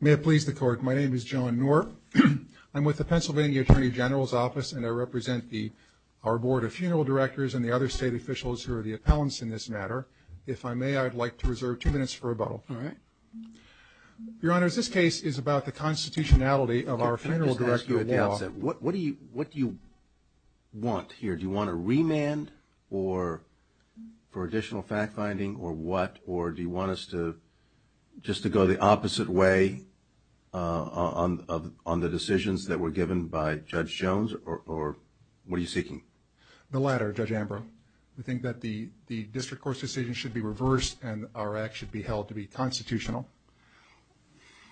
May it please the court, my name is John Norp. I'm with the Pennsylvania Attorney General's Court of Appeals, and I'm here to represent our Board of Funeral Directors and the other state officials who are the appellants in this matter. If I may, I'd like to reserve two minutes for rebuttal. Your Honor, this case is about the constitutionality of our funeral directorial law. Can I just ask you at the outset, what do you want here? Do you want a remand for additional fact-finding or what? Or do you want us to just to go the opposite way on the decisions that were given by Judge Jones, or what are you seeking? The latter, Judge Ambrose. We think that the district court's decision should be reversed and our act should be held to be constitutional.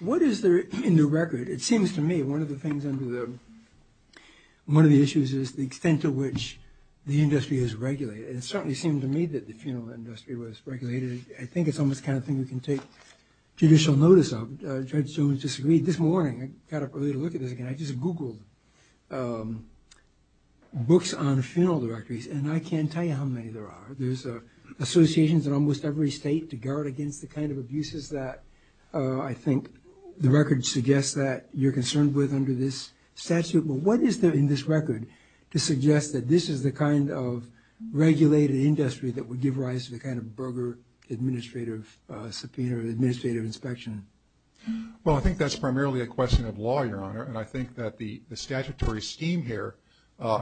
What is there in the record? It seems to me one of the things under the, one of the issues is the extent to which the industry is regulated. It certainly seemed to me that the funeral industry was regulated. I think it's almost the kind of thing we can take judicial notice of. Judge Jones disagreed this morning. I got up early to look at this again. I just Googled books on funeral directories and I can't tell you how many there are. There's associations in almost every state to guard against the kind of abuses that I think the record suggests that you're concerned with under this statute. But what is there in this record to suggest that this is the kind of regulated industry that would give rise to a kind of Berger administrative subpoena or administrative inspection? Well I think that's primarily a question of law, Your Honor, and I think that the statutory scheme here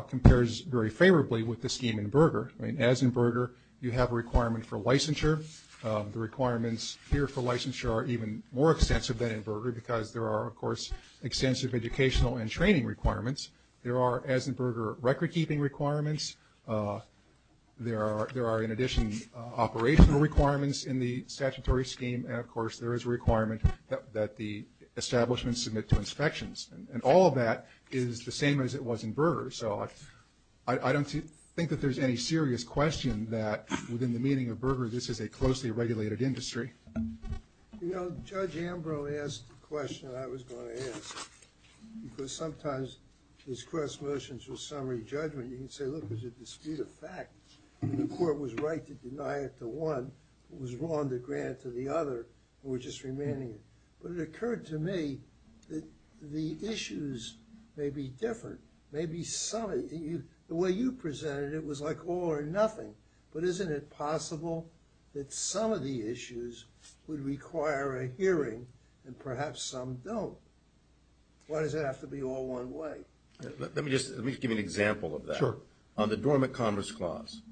compares very favorably with the scheme in Berger. I mean, as in Berger, you have a requirement for licensure. The requirements here for licensure are even more extensive than in Berger because there are, of course, extensive educational and training requirements. There are, as in Berger, record-keeping requirements. There are, in addition, operational requirements in the statutory scheme and, of course, there is a requirement that the establishment submit to inspections. And all of that is the same as it was in Berger. So I don't think that there's any serious question that within the meaning of Berger this is a closely regulated industry. You know, Judge Ambrose asked the question that I was going to ask. Because sometimes these cross-motions with summary judgment, you can say, look, it's a dispute of fact. The court was right to deny it to one, it was wrong to grant it to the other, and we're just remanding it. But it occurred to me that the issues may be different. Maybe some of you, the way you presented it, it was like all or nothing. But isn't it possible that some of the issues would require a hearing and perhaps some don't? Why does it have to be all one way? Let me just – let me give you an example of that. Sure. On the dormant commerce clause,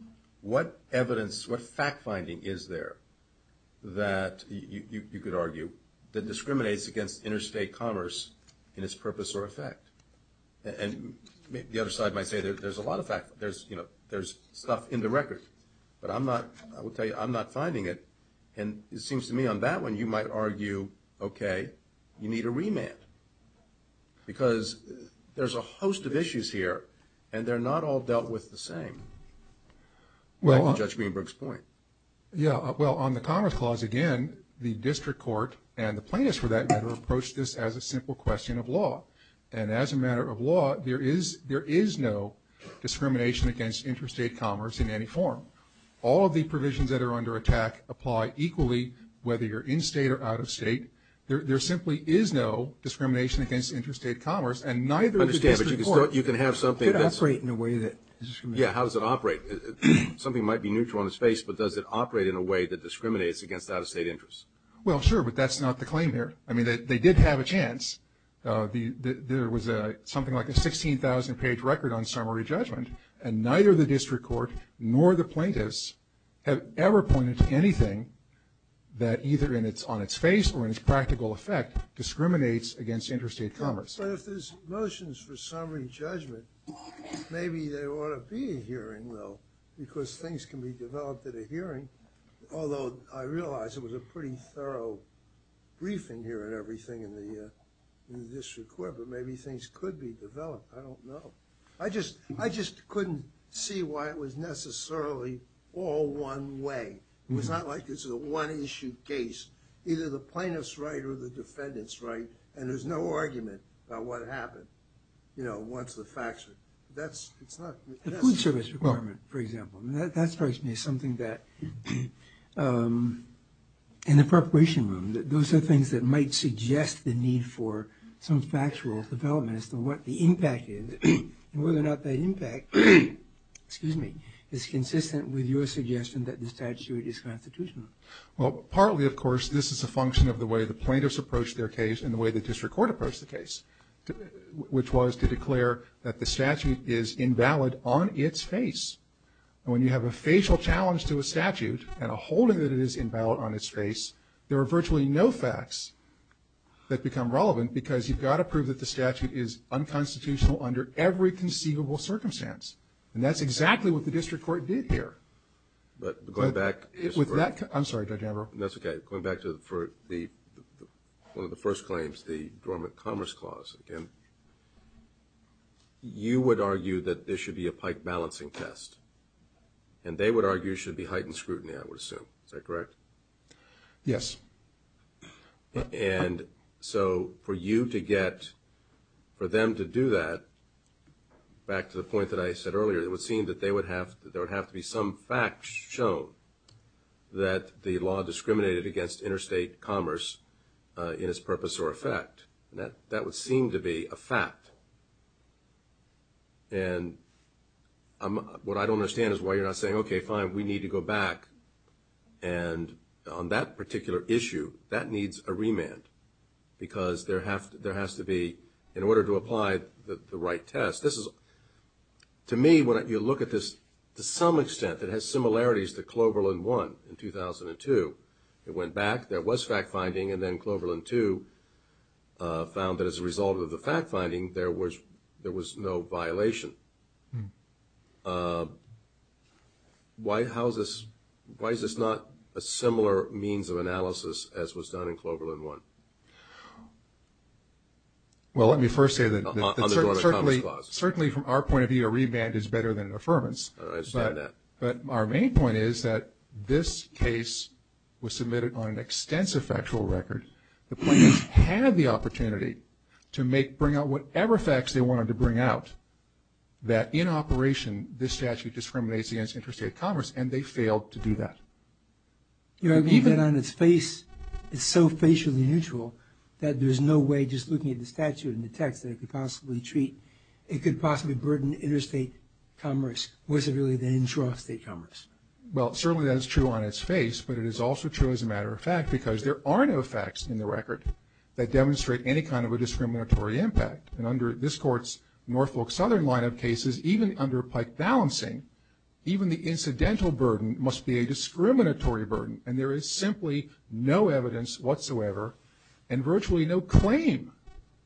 what evidence, what fact-finding is there that you could argue that discriminates against interstate commerce in its purpose or effect? And the other side might say there's a lot of fact – there's, you know, there's stuff in the record. But I'm not – I will tell you, I'm not finding it. And it seems to me on that one, you might argue, okay, you need a remand. Because there's a host of issues here, and they're not all dealt with the same, back to Judge Greenberg's point. Yeah, well, on the commerce clause, again, the district court and the plaintiffs for that matter approached this as a simple question of law. And as a matter of law, there is no discrimination against interstate commerce in any form. All of the provisions that are under attack apply equally, whether you're in-state or out-of-state. There simply is no discrimination against interstate commerce, and neither does the district court. I understand, but you can have something that's – It could operate in a way that is discriminatory. Yeah, how does it operate? Something might be neutral on its face, but does it operate in a way that discriminates against out-of-state interests? Well, sure, but that's not the claim here. I mean, they did have a chance. There was something like a 16,000-page record on summary judgment, and neither the district court nor the plaintiffs have ever pointed to anything that either on its face or in its practical effect discriminates against interstate commerce. But if there's motions for summary judgment, maybe there ought to be a hearing, though, because things can be developed at a hearing. Although I realize it was a pretty thorough briefing here and everything in the district court, but maybe things could be developed. I don't know. I just couldn't see why it was necessarily all one way. It's not like it's a one-issue case. Either the plaintiff's right or the defendant's right, and there's no argument about what happened, you know, once the facts are – that's – it's not – The food service requirement, for example. That strikes me as something that – in the corporation room, those are things that might suggest the need for some factual development as to what the impact is, and whether or not that impact – excuse me – is consistent with your suggestion that the statute is constitutional. Well, partly, of course, this is a function of the way the plaintiffs approached their case and the way the district court approached the case, which was to declare that the statute is invalid on its face. And when you have a facial challenge to a statute and a holding that it is invalid on its face, there are virtually no facts that become relevant because you've got to prove that the statute is unconstitutional under every conceivable circumstance. And that's exactly what the district court did here. But going back – With that – I'm sorry, Judge Ambrose. That's okay. Going back to the – for the – one of the first claims, the dormant commerce clause again, you would argue that there should be a pike balancing test, and they would argue there should be heightened scrutiny, I would assume. Is that correct? Yes. And so for you to get – for them to do that, back to the point that I said earlier, it would seem that they would have – that there would have to be some facts shown that the law discriminated against interstate commerce in its purpose or effect. That would seem to be a fact. And what I don't understand is why you're not saying, okay, fine, we need to go back, and on that particular issue, that needs a remand because there has to be – in order to apply the right test. This is – to me, when you look at this, to some extent it has similarities to Cloverland 1 in 2002. It went back, there was fact-finding, and then Cloverland 2 found that as a result of the fact-finding, there was no violation. Why is this not a similar means of analysis as was done in Cloverland 1? Well, let me first say that certainly from our point of view, a remand is better than an affirmance. I understand that. But our main point is that this case was submitted on an extensive factual record. The plaintiffs had the opportunity to make – bring out whatever facts they wanted to bring out, that in operation, this statute discriminates against interstate commerce, and they failed to do that. You know, even on its face, it's so facially neutral that there's no way just looking at the statute and the text that it could possibly treat – it could possibly burden interstate commerce. Was it really the interest of state commerce? Well, certainly that is true on its face, but it is also true as a matter of fact because there are no facts in the record that demonstrate any kind of a discriminatory impact. And under this Court's Norfolk Southern line of cases, even under Pike balancing, even the incidental burden must be a discriminatory burden, and there is simply no evidence whatsoever and virtually no claim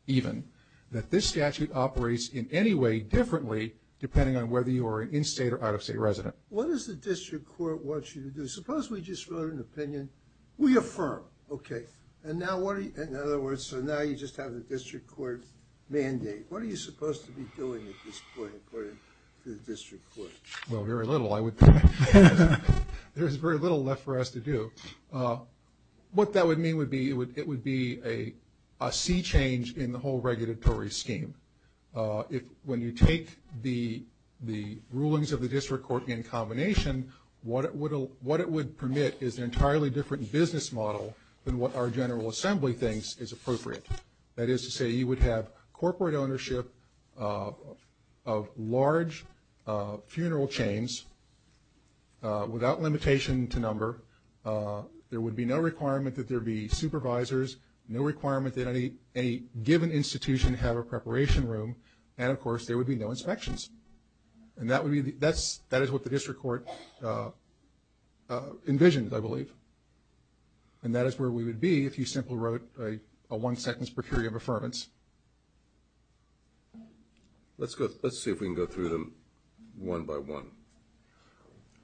even that this statute operates in any way differently depending on whether you are an in-state or out-of-state resident. What does the district court want you to do? Suppose we just wrote an opinion. We affirm. Okay. And now what are you – in other words, so now you just have the district court mandate. What are you supposed to be doing at this point according to the district court? Well, very little, I would think. There's very little left for us to do. What that would mean would be it would be a sea change in the whole regulatory scheme. If – when you take the rulings of the district court in combination, what it would permit is an entirely different business model than what our General Assembly thinks is appropriate. That is to say, you would have corporate ownership of large funeral chains without limitation to number. There would be no requirement that there be supervisors, no requirement that any given institution have a preparation room, and of course, there would be no inspections. And that would be – that is what the district court envisioned, I believe. And that is where we would be if you simply wrote a one-second per period of affirmance. Let's go – let's see if we can go through them one by one.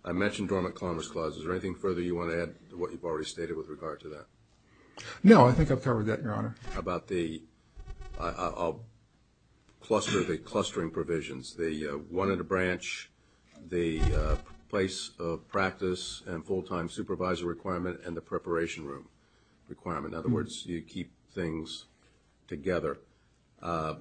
I mentioned Dormant Commerce Clause. Is there anything further you want to add to what you've already stated with regard to that? No, I think I've covered that, Your Honor. How about the – I'll cluster the clustering provisions, the one-at-a-branch, the place of practice and full-time supervisor requirement, and the preparation room requirement. In other words, you keep things together. How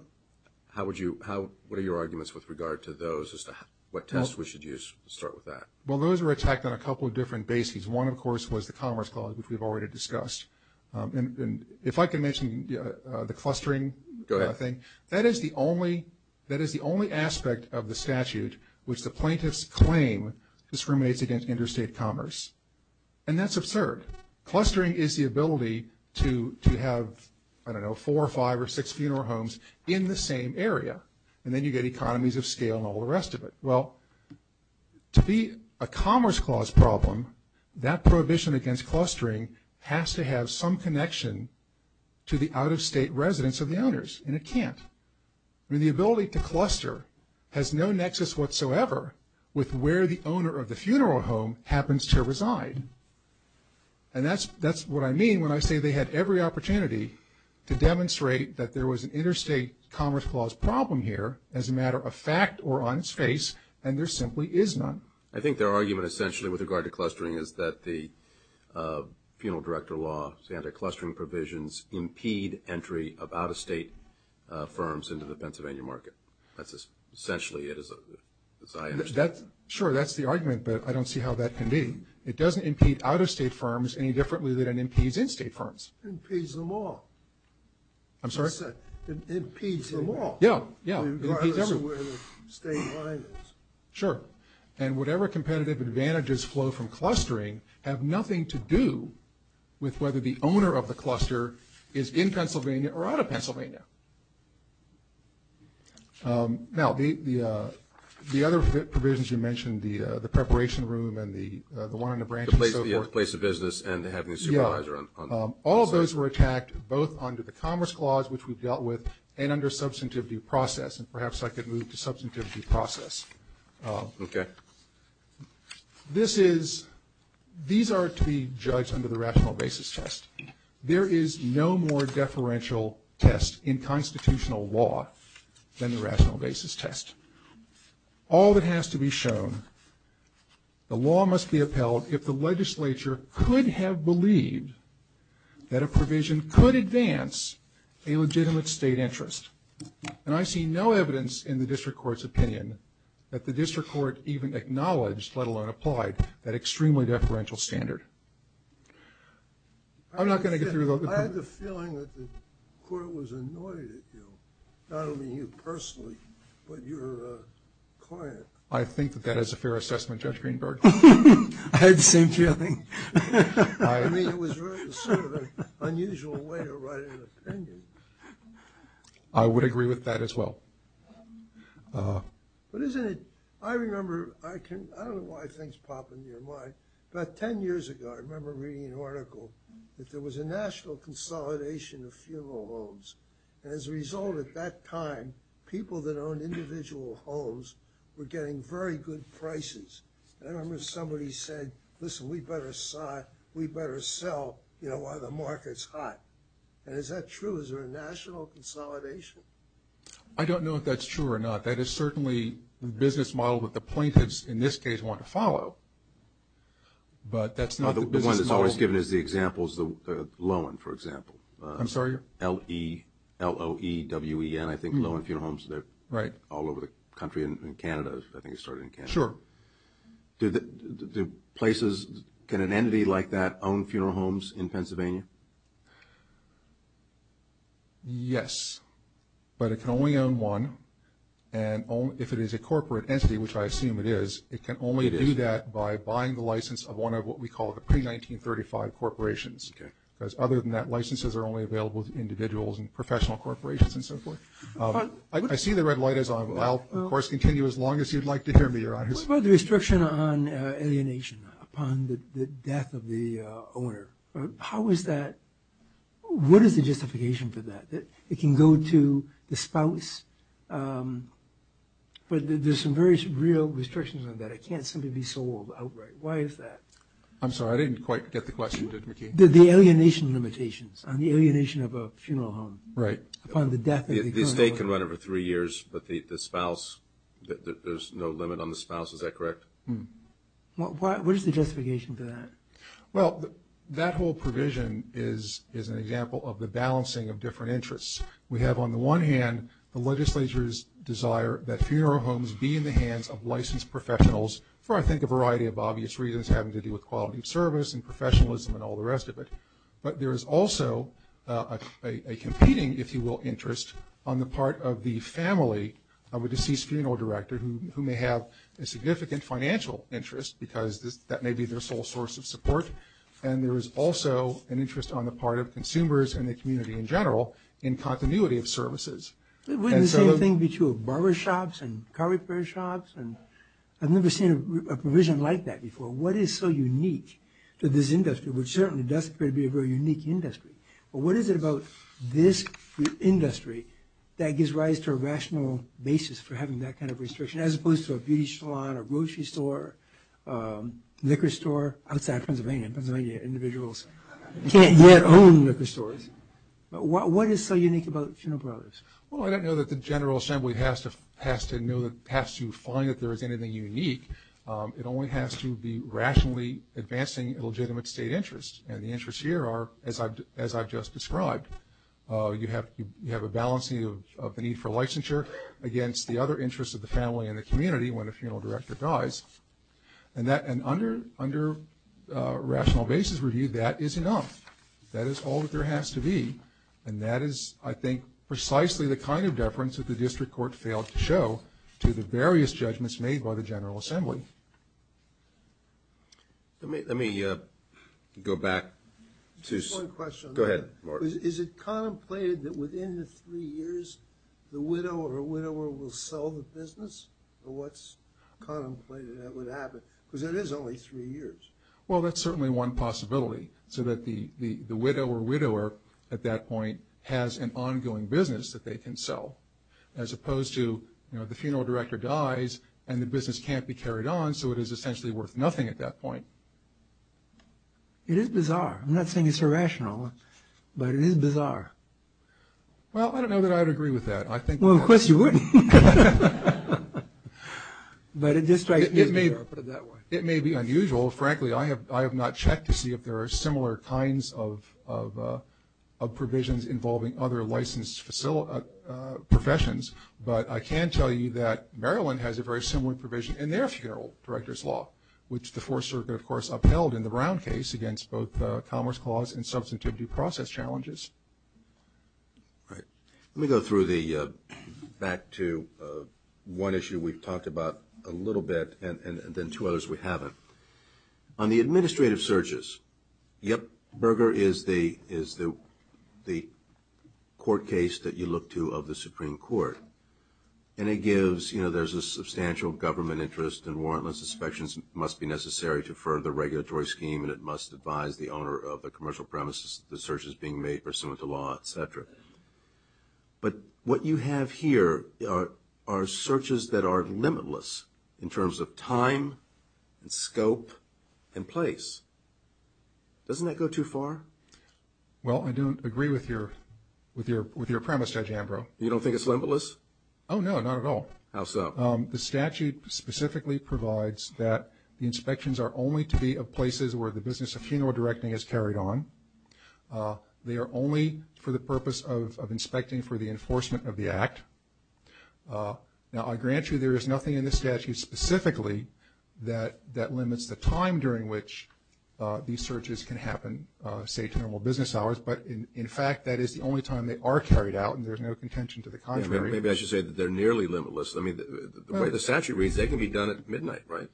would you – what are your arguments with regard to those as to what test we should use? Let's start with that. Well, those were attacked on a couple of different bases. One, of course, was the Commerce Clause, which we've already discussed. And if I can mention the clustering thing, that is the only – that is the only aspect of the statute which the plaintiffs claim discriminates against interstate commerce. And that's absurd. Clustering is the ability to have, I don't know, four or five or six funeral homes in the same area. And then you get economies of scale and all the rest of it. Well, to be a Commerce Clause problem, that prohibition against clustering has to have some connection to the out-of-state residence of the owners, and it can't. I mean, the ability to cluster has no nexus whatsoever with where the owner of the funeral home happens to reside. And that's what I mean when I say they had every opportunity to demonstrate that there was an interstate Commerce Clause problem here as a matter of fact or on its face, and there simply is none. I think their argument, essentially, with regard to clustering is that the penal director law, the anti-clustering provisions, impede entry of out-of-state firms into the Pennsylvania market. That's essentially it, as I understand it. Sure, that's the argument, but I don't see how that can be. It doesn't impede out-of-state firms any differently than it impedes in-state firms. It impedes them all. I'm sorry? It impedes them all. Yeah, yeah. It impedes everyone. Regardless of where the state line is. Sure. And whatever competitive advantages flow from clustering have nothing to do with whether the owner of the cluster is in Pennsylvania or out of Pennsylvania. Now, the other provisions you mentioned, the preparation room and the one on the branch and so forth. The place of business and having a supervisor on the branch. All of those were attacked both under the Commerce Clause, which we've dealt with, and under substantivity process. And perhaps I could move to substantivity process. Okay. This is, these are to be judged under the rational basis test. There is no more deferential test in constitutional law than the rational basis test. All that has to be shown, the law must be upheld if the legislature could have believed that a provision could advance a legitimate state interest. And I see no evidence in the District Court's opinion that the District Court even acknowledged, let alone applied, that extremely deferential standard. I'm not going to get through the whole thing. I had the feeling that the Court was annoyed at you. Not only you personally, but your client. I think that that is a fair assessment, Judge Greenberg. I had the same feeling. I mean, it was sort of an unusual way to write an opinion. I would agree with that as well. But isn't it, I remember, I can, I don't know why things pop into your mind, but 10 years ago, I remember reading an article that there was a national consolidation of funeral homes. And as a result of that time, people that owned individual homes were getting very good prices. I remember somebody said, listen, we better sell, you know, while the market's hot. And is that true? Is there a national consolidation? I don't know if that's true or not. That is certainly the business model that the plaintiffs, in this case, want to follow. But that's not the business model. No, the one that's always given as the example is the Loewen, for example. I'm sorry? L-O-E-W-E-N, I think, Loewen Funeral Homes. Right. They're all over the country and in Canada. I think it started in Canada. Sure. Do places, can an entity like that own funeral homes in Pennsylvania? Yes, but it can only own one. And if it is a corporate entity, which I assume it is, it can only do that by buying the license of one of what we call the pre-1935 corporations. Okay. Because other than that, licenses are only available to individuals and professional corporations and so forth. I see the red light as I'll, of course, continue as long as you'd like to hear me, Your Honors. What about the restriction on alienation upon the death of the owner? How is that, what is the justification for that? It can go to the spouse, but there's some very real restrictions on that. It can't simply be sold outright. Why is that? I'm sorry, I didn't quite get the question, did you, McKee? The alienation limitations on the alienation of a funeral home. Right. Upon the death of the owner. The estate can run over three years, but the spouse, there's no limit on the spouse. Is that correct? What is the justification for that? Well, that whole provision is an example of the balancing of different interests. We have, on the one hand, the legislature's desire that funeral homes be in the hands of licensed professionals for, I think, a variety of obvious reasons, having to do with quality of service and professionalism and all the rest of it. But there is also a competing, if you will, interest on the part of the family of a deceased funeral director who may have a significant financial interest, because that may be their sole source of support. And there is also an interest on the part of consumers and the community in general in continuity of services. Wouldn't the same thing be true of barbershops and car repair shops? I've never seen a provision like that before. What is so unique to this industry, which certainly does appear to be a very unique industry, but what is it about this industry that gives rise to a rational basis for having that kind of restriction, as opposed to a beauty salon, a grocery store, liquor store outside Pennsylvania? Pennsylvania individuals can't yet own liquor stores. What is so unique about Funeral Brothers? Well, I don't know that the General Assembly has to find that there is anything unique. It only has to be rationally advancing a legitimate state interest. And the interests here are, as I've just described, you have a balancing of the need for licensure against the other interests of the family and the community when a funeral director dies. And under rational basis review, that is enough. That is all that there has to be. And that is, I think, precisely the kind of deference that the District Court failed to show to the various judgments made by the General Assembly. Let me go back to... Just one question. Go ahead, Mark. Is it contemplated that within the three years, the widow or widower will sell the business? Or what's contemplated that would happen? Because there is only three years. Well, that's certainly one possibility, so that the widow or widower at that point has an ongoing business that they can sell, as opposed to, you know, the funeral director dies and the business can't be carried on, so it is essentially worth nothing at that point. It is bizarre. I'm not saying it's irrational, but it is bizarre. Well, I don't know that I would agree with that. Well, of course you wouldn't. But it just strikes me as bizarre. It may be unusual. Well, frankly, I have not checked to see if there are similar kinds of provisions involving other licensed professions, but I can tell you that Maryland has a very similar provision in their funeral director's law, which the Fourth Circuit, of course, upheld in the Brown case against both Commerce Clause and substantivity process challenges. All right. Let me go back to one issue we've talked about a little bit and then two others we haven't. On the administrative searches, yep, Berger is the court case that you look to of the Supreme Court, and it gives, you know, there's a substantial government interest and warrantless inspections must be necessary to further the regulatory scheme and it must advise the owner of the commercial premises the searches being made are similar to law, et cetera. But what you have here are searches that are limitless in terms of time and scope and place. Doesn't that go too far? Well, I don't agree with your premise, Judge Ambrose. You don't think it's limitless? Oh, no, not at all. How so? The statute specifically provides that the inspections are only to be of places where the business of funeral directing is carried on. They are only for the purpose of inspecting for the enforcement of the act. Now, I grant you there is nothing in the statute specifically that limits the time during which these searches can happen, say, to normal business hours, but, in fact, that is the only time they are carried out and there is no contention to the contrary. Maybe I should say that they're nearly limitless. I mean, the way the statute reads, they can be done at midnight, right?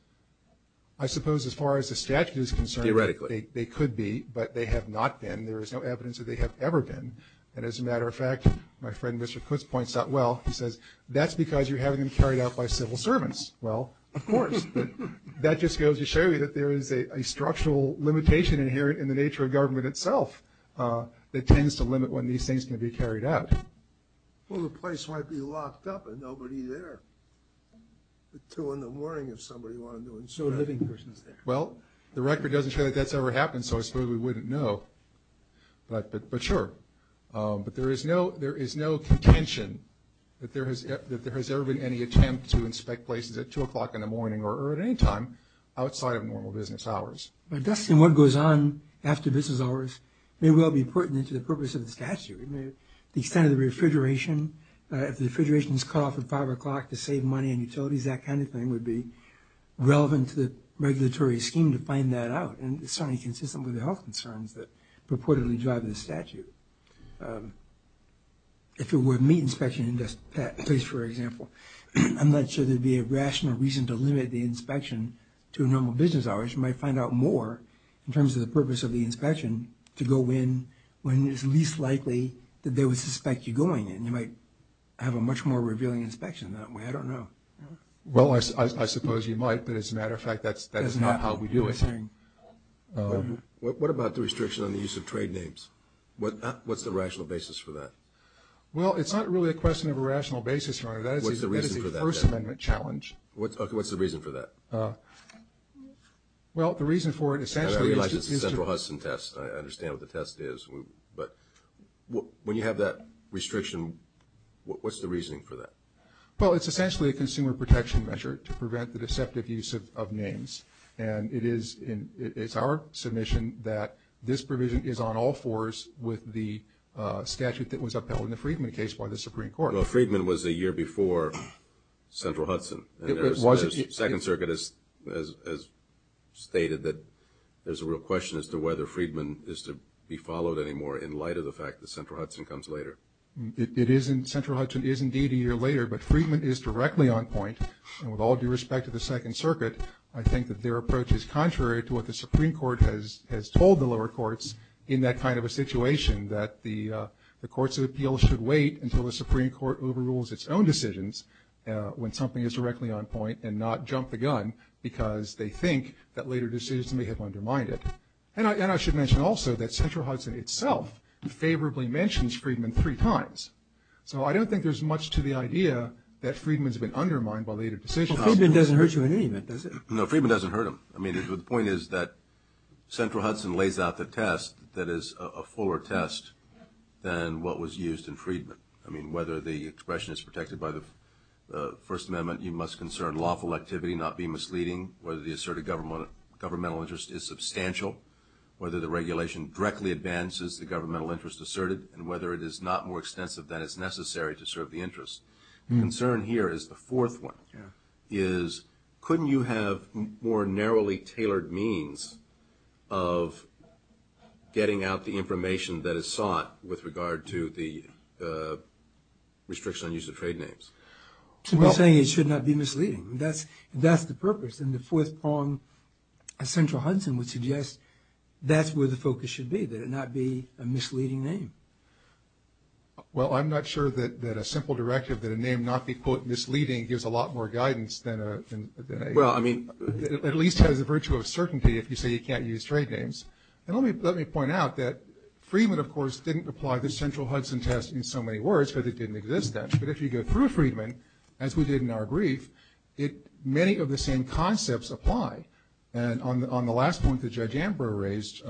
I suppose as far as the statute is concerned, they could be, but they have not been. There is no evidence that they have ever been. And as a matter of fact, my friend Mr. Kutz points out well, he says, that's because you're having them carried out by civil servants. Well, of course. That just goes to show you that there is a structural limitation inherent in the nature of government itself that tends to limit when these things can be carried out. Well, the place might be locked up and nobody there at 2 in the morning if somebody wanted to. No living persons there. Well, the record doesn't show that that's ever happened, so I suppose we wouldn't know. But sure. But there is no contention that there has ever been any attempt to inspect places at 2 o'clock in the morning or at any time outside of normal business hours. Dustin, what goes on after business hours may well be pertinent to the purpose of the statute. The extent of the refrigeration, if the refrigeration is cut off at 5 o'clock to save money and utilities, that kind of thing would be relevant to the regulatory scheme to find that out. And it's certainly consistent with the health concerns that purportedly drive this statute. If it were meat inspection in that place, for example, I'm not sure there would be a rational reason to limit the inspection to normal business hours. You might find out more in terms of the purpose of the inspection to go in when it's least likely that they would suspect you going in. You might have a much more revealing inspection that way. I don't know. Well, I suppose you might, but as a matter of fact, that's not how we do it. What about the restriction on the use of trade names? What's the rational basis for that? Well, it's not really a question of a rational basis, Your Honor. What's the reason for that? That is a First Amendment challenge. Okay, what's the reason for that? Well, the reason for it essentially is to- I realize it's a Central Hudson test. I understand what the test is. But when you have that restriction, what's the reasoning for that? Well, it's essentially a consumer protection measure to prevent the deceptive use of names. And it is our submission that this provision is on all fours with the statute that was upheld in the Friedman case by the Supreme Court. Well, Friedman was a year before Central Hudson. The Second Circuit has stated that there's a real question as to whether Friedman is to be followed anymore in light of the fact that Central Hudson comes later. Central Hudson is indeed a year later, but Friedman is directly on point. And with all due respect to the Second Circuit, I think that their approach is contrary to what the Supreme Court has told the lower courts in that kind of a situation, that the courts of appeal should wait until the Supreme Court overrules its own decisions when something is directly on point and not jump the gun because they think that later decisions may have undermined it. And I should mention also that Central Hudson itself favorably mentions Friedman three times. So I don't think there's much to the idea that Friedman's been undermined by later decisions. Well, Friedman doesn't hurt you in any way, does he? No, Friedman doesn't hurt him. I mean, the point is that Central Hudson lays out the test that is a fuller test than what was used in Friedman. I mean, whether the expression is protected by the First Amendment, you must concern lawful activity, not be misleading, whether the asserted governmental interest is substantial, whether the regulation directly advances the governmental interest asserted, and whether it is not more extensive than is necessary to serve the interest. The concern here is the fourth one, is couldn't you have more narrowly tailored means of getting out the information that is sought with regard to the restriction on use of trade names? To be saying it should not be misleading, that's the purpose. And the fourth prong of Central Hudson would suggest that's where the focus should be, that it not be a misleading name. Well, I'm not sure that a simple directive that a name not be, quote, misleading gives a lot more guidance than a- Well, I mean- At least has the virtue of certainty if you say you can't use trade names. And let me point out that Friedman, of course, didn't apply the Central Hudson test in so many words because it didn't exist then. But if you go through Friedman, as we did in our brief, many of the same concepts apply. And on the last point that Judge Ambrose raised,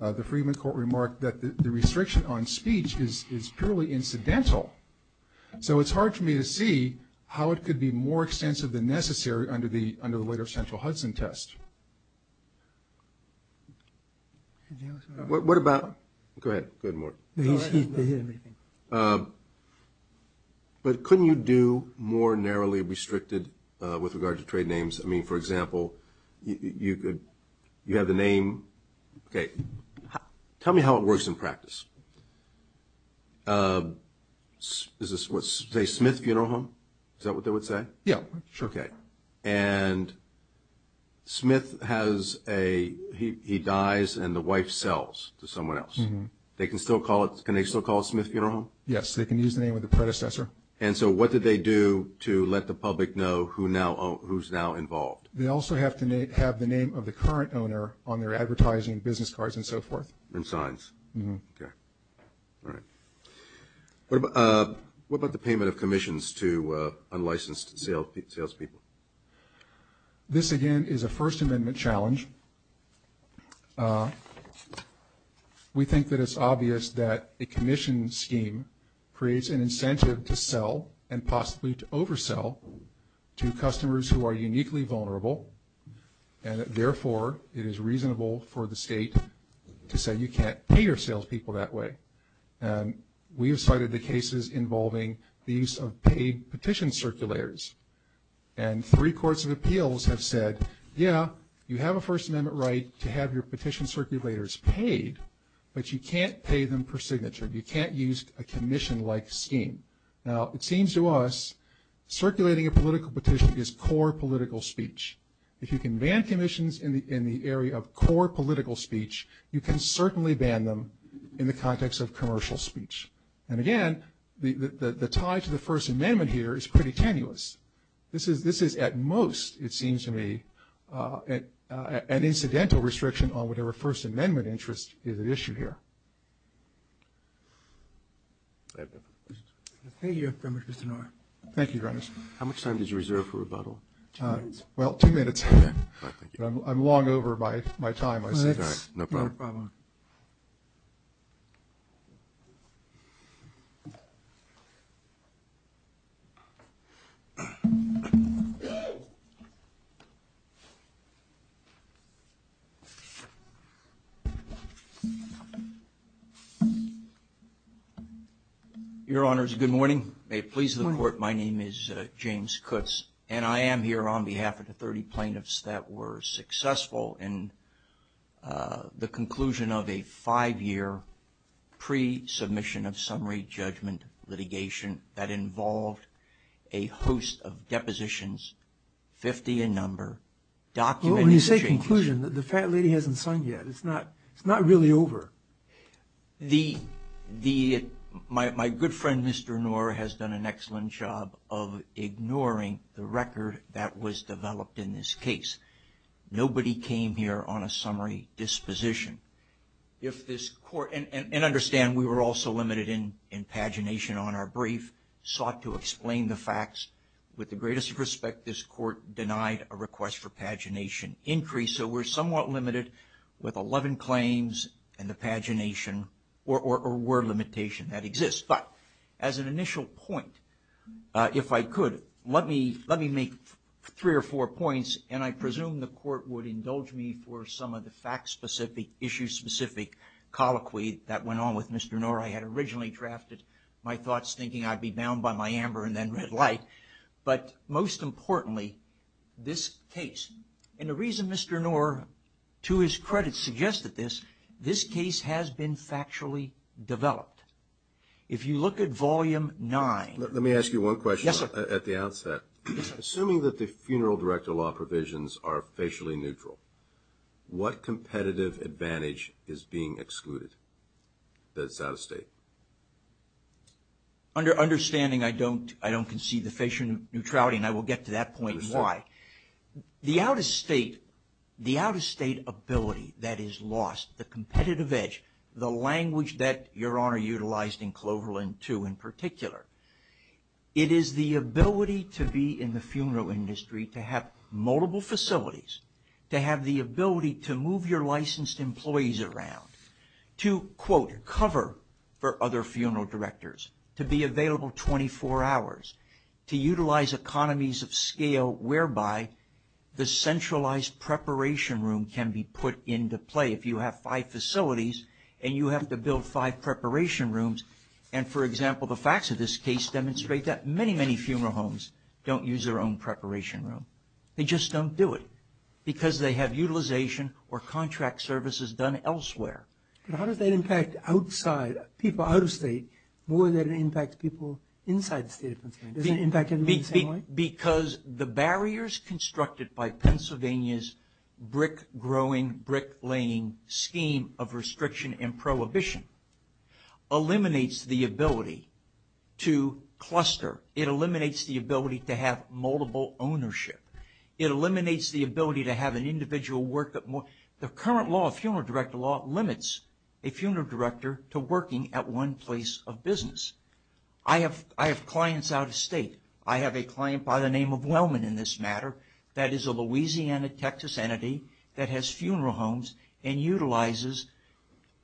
the Friedman court remarked that the restriction on speech is purely incidental. So it's hard for me to see how it could be more extensive than necessary under the later Central Hudson test. What about- go ahead, go ahead, Mark. But couldn't you do more narrowly restricted with regard to trade names? I mean, for example, you could- you have the name- okay. Tell me how it works in practice. Is this what- say Smith Funeral Home? Is that what they would say? Yeah, sure. Okay. And Smith has a- he dies and the wife sells to someone else. Mm-hmm. They can still call it- can they still call it Smith Funeral Home? Yes, they can use the name of the predecessor. Yes, sir. And so what do they do to let the public know who now- who's now involved? They also have to have the name of the current owner on their advertising business cards and so forth. And signs. Mm-hmm. Okay. All right. What about the payment of commissions to unlicensed salespeople? This, again, is a First Amendment challenge. We think that it's obvious that a commission scheme creates an incentive to sell and possibly to oversell to customers who are uniquely vulnerable, and therefore it is reasonable for the state to say you can't pay your salespeople that way. And we have cited the cases involving the use of paid petition circulators. And three courts of appeals have said, yeah, you have a First Amendment right to have your petition circulators paid, but you can't pay them per signature. You can't use a commission-like scheme. Now, it seems to us circulating a political petition is core political speech. If you can ban commissions in the area of core political speech, you can certainly ban them in the context of commercial speech. And, again, the tie to the First Amendment here is pretty tenuous. This is at most, it seems to me, an incidental restriction on whatever First Amendment interest is at issue here. Thank you, Mr. Norris. Thank you, Your Honor. How much time does you reserve for rebuttal? Two minutes. Well, two minutes. I'm long over my time. Well, that's no problem. Your Honors, good morning. May it please the Court, my name is James Kutz, and I am here on behalf of the 30 plaintiffs that were successful in the conclusion of a five-year pre-submission of summary judgment litigation that involved a host of depositions, 50 in number. When you say conclusion, the fat lady hasn't signed yet. It's not really over. My good friend, Mr. Norris, has done an excellent job of ignoring the record that was developed in this case. Nobody came here on a summary disposition. And understand, we were also limited in pagination on our brief, sought to explain the facts. With the greatest respect, this Court denied a request for pagination increase, so we're somewhat limited with 11 claims and the pagination or word limitation that exists. But as an initial point, if I could, let me make three or four points, and I presume the Court would indulge me for some of the fact-specific, issue-specific colloquy that went on with Mr. Norris. I had originally drafted my thoughts thinking I'd be bound by my amber and then red light. But most importantly, this case, and the reason Mr. Norris, to his credit, suggested this, this case has been factually developed. If you look at Volume 9. Let me ask you one question at the outset. Yes, sir. Assuming that the funeral director law provisions are facially neutral, what competitive advantage is being excluded that's out of state? Understanding I don't concede the facial neutrality, and I will get to that point why. The out-of-state ability that is lost, the competitive edge, the language that Your Honor utilized in Cloverland II in particular, it is the ability to be in the funeral industry, to have multiple facilities, to have the ability to move your licensed employees around, to, quote, cover for other funeral directors, to be available 24 hours, to utilize economies of scale whereby the centralized preparation room can be put into play. If you have five facilities and you have to build five preparation rooms, and, for example, the facts of this case demonstrate that many, many funeral homes don't use their own preparation room. They just don't do it because they have utilization or contract services done elsewhere. How does that impact outside, people out of state, more than it impacts people inside the state of Pennsylvania? Because the barriers constructed by Pennsylvania's brick-growing, brick-laying scheme of restriction and prohibition eliminates the ability to cluster. It eliminates the ability to have multiple ownership. It eliminates the ability to have an individual work at more. The current law, funeral director law, limits a funeral director to working at one place of business. I have clients out of state. I have a client by the name of Wellman in this matter that is a Louisiana, Texas entity that has funeral homes and utilizes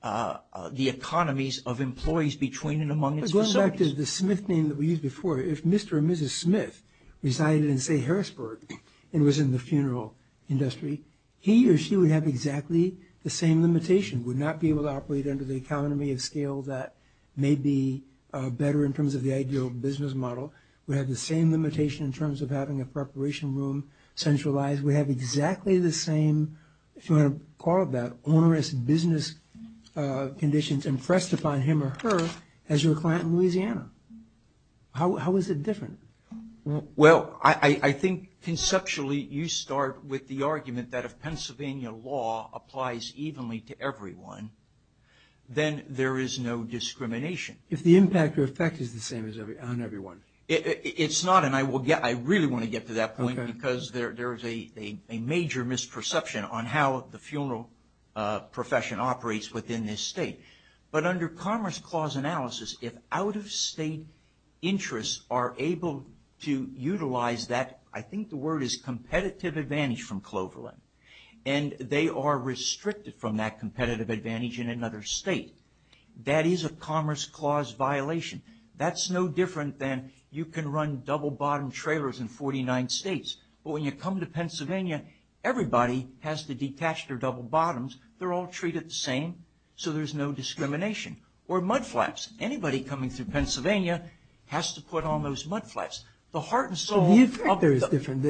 the economies of employees between and among its facilities. Going back to the Smith name that we used before, if Mr. or Mrs. Smith resided in, say, Harrisburg and was in the funeral industry, he or she would have exactly the same limitation, would not be able to operate under the economy of scale that may be better in terms of the ideal business model, would have the same limitation in terms of having a preparation room centralized, would have exactly the same, if you want to call it that, onerous business conditions impressed upon him or her as your client in Louisiana. How is it different? Well, I think conceptually you start with the argument that if Pennsylvania law applies evenly to everyone, then there is no discrimination. If the impact or effect is the same on everyone. It's not, and I really want to get to that point because there is a major misperception on how the funeral profession operates within this state. But under Commerce Clause analysis, if out-of-state interests are able to utilize that, I think the word is competitive advantage from Cloverland, and they are restricted from that competitive advantage in another state, that is a Commerce Clause violation. That's no different than you can run double bottom trailers in 49 states. But when you come to Pennsylvania, everybody has to detach their double bottoms. They're all treated the same, so there's no discrimination. Or mudflaps. Anybody coming through Pennsylvania has to put on those mudflaps. The heart and soul of the- The effect there is different.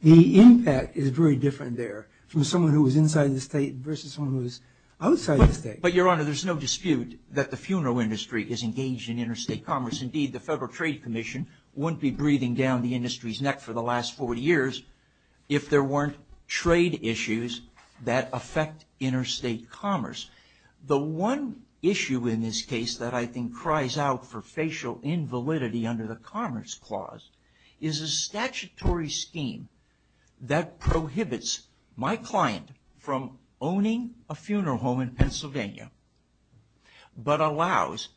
The impact is very different there from someone who is inside the state versus someone who is outside the state. But, Your Honor, there's no dispute that the funeral industry is engaged in interstate commerce. Indeed, the Federal Trade Commission wouldn't be breathing down the industry's neck for the last 40 years if there weren't trade issues that affect interstate commerce. The one issue in this case that I think cries out for facial invalidity under the Commerce Clause is a statutory scheme that prohibits my client from owning a funeral home in Pennsylvania, but allows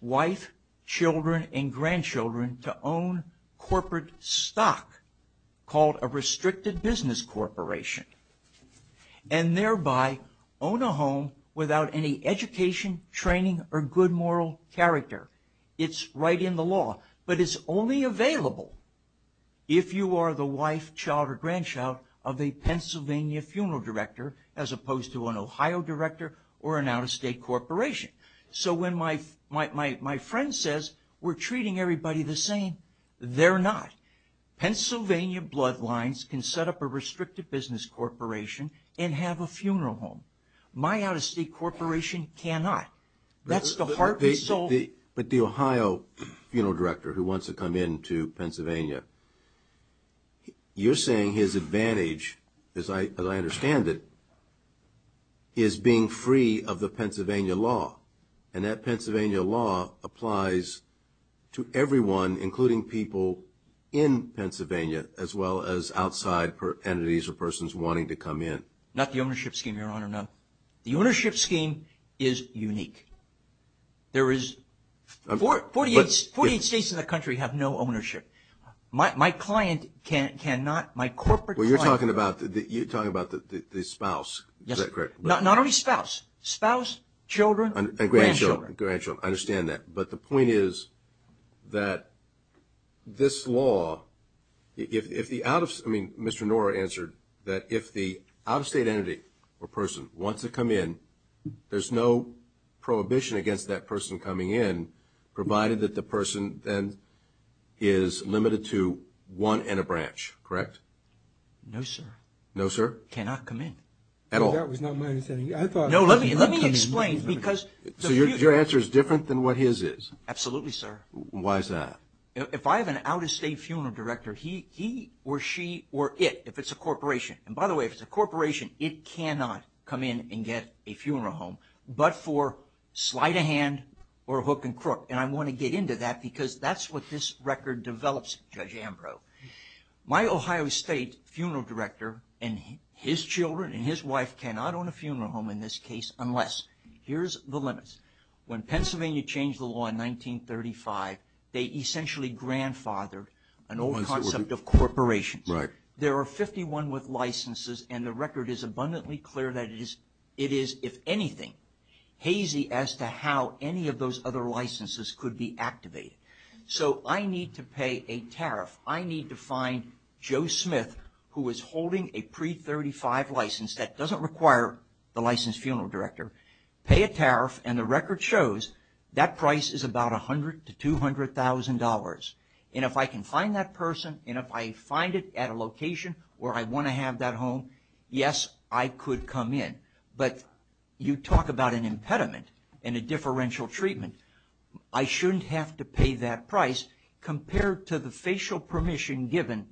wife, children, and grandchildren to own corporate stock called a restricted business corporation, and thereby own a home without any education, training, or good moral character. It's right in the law. But it's only available if you are the wife, child, or grandchild of a Pennsylvania funeral director as opposed to an Ohio director or an out-of-state corporation. So when my friend says, we're treating everybody the same, they're not. Pennsylvania bloodlines can set up a restricted business corporation and have a funeral home. My out-of-state corporation cannot. That's the heart and soul. But the Ohio funeral director who wants to come into Pennsylvania, you're saying his advantage, as I understand it, is being free of the Pennsylvania law. And that Pennsylvania law applies to everyone, including people in Pennsylvania, as well as outside entities or persons wanting to come in. Not the ownership scheme, Your Honor, no. The ownership scheme is unique. There is 48 states in the country have no ownership. My client cannot, my corporate client cannot. Well, you're talking about the spouse. Not only spouse. Spouse, children, and grandchildren. I understand that. But the point is that this law, if the out-of-state entity or person wants to come in, there's no prohibition against that person coming in, provided that the person then is limited to one and a branch, correct? No, sir. No, sir? That person cannot come in at all. That was not my understanding. No, let me explain. So your answer is different than what his is? Absolutely, sir. Why is that? If I have an out-of-state funeral director, he or she or it, if it's a corporation, and by the way, if it's a corporation, it cannot come in and get a funeral home, but for sleight of hand or hook and crook. And I want to get into that because that's what this record develops, Judge Ambrose. My Ohio State funeral director and his children and his wife cannot own a funeral home in this case unless, here's the limits, when Pennsylvania changed the law in 1935, they essentially grandfathered an old concept of corporations. Right. There are 51 with licenses, and the record is abundantly clear that it is, if anything, hazy as to how any of those other licenses could be activated. So I need to pay a tariff. I need to find Joe Smith, who is holding a pre-35 license. That doesn't require the licensed funeral director. Pay a tariff, and the record shows that price is about $100,000 to $200,000. And if I can find that person, and if I find it at a location where I want to have that home, yes, I could come in. But you talk about an impediment and a differential treatment. I shouldn't have to pay that price compared to the facial permission given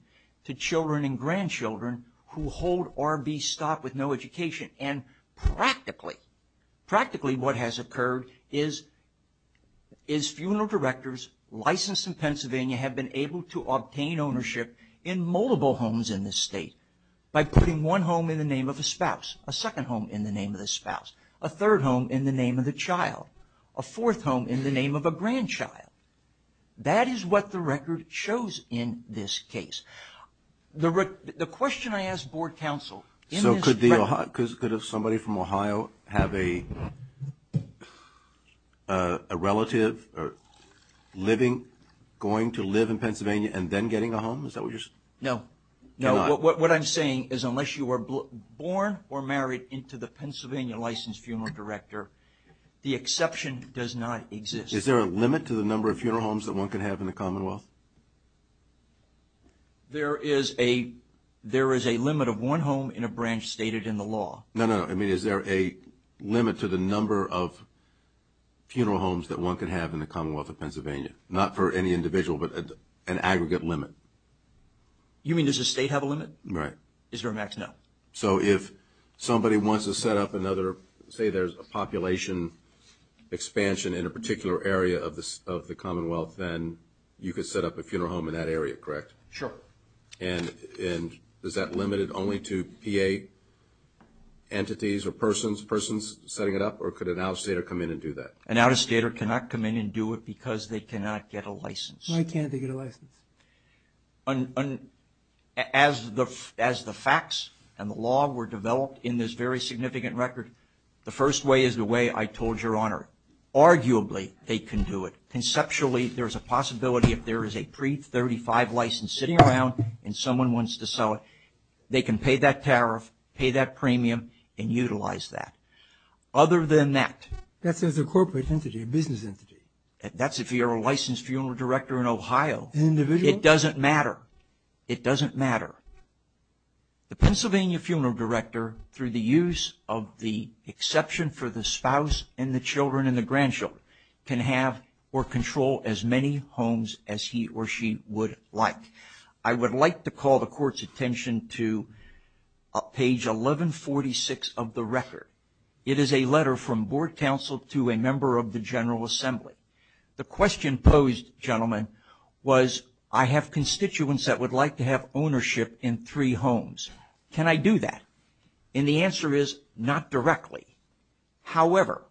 to children and grandchildren who hold R.B. stock with no education. And practically, practically what has occurred is funeral directors licensed in Pennsylvania have been able to obtain ownership in multiple homes in this state by putting one home in the name of a spouse, a second home in the name of the spouse, a third home in the name of the child, a fourth home in the name of a grandchild. That is what the record shows in this case. The question I asked board counsel... So could somebody from Ohio have a relative going to live in Pennsylvania and then getting a home? No. What I'm saying is unless you are born or married into the Pennsylvania licensed funeral director, the exception does not exist. Is there a limit to the number of funeral homes that one can have in the Commonwealth? There is a limit of one home in a branch stated in the law. No, no, no. I mean, is there a limit to the number of funeral homes that one can have in the Commonwealth of Pennsylvania? Not for any individual, but an aggregate limit. You mean does the state have a limit? Right. Is there a max? No. So if somebody wants to set up another, say there's a population expansion in a particular area of the Commonwealth, then you could set up a funeral home in that area, correct? Sure. And is that limited only to PA entities or persons, persons setting it up, or could an out-of-stater come in and do that? An out-of-stater cannot come in and do it because they cannot get a license. Why can't they get a license? As the facts and the law were developed in this very significant record, the first way is the way I told Your Honor. Arguably, they can do it. Conceptually, there's a possibility if there is a pre-35 license sitting around and someone wants to sell it, they can pay that tariff, pay that premium, and utilize that. Other than that. That's as a corporate entity, a business entity. That's if you're a licensed funeral director in Ohio. An individual? It doesn't matter. It doesn't matter. The Pennsylvania funeral director, through the use of the exception for the spouse and the children and the grandchildren, can have or control as many homes as he or she would like. I would like to call the Court's attention to page 1146 of the record. It is a letter from Board Counsel to a member of the General Assembly. The question posed, gentlemen, was, I have constituents that would like to have ownership in three homes. Can I do that? And the answer is, not directly. However,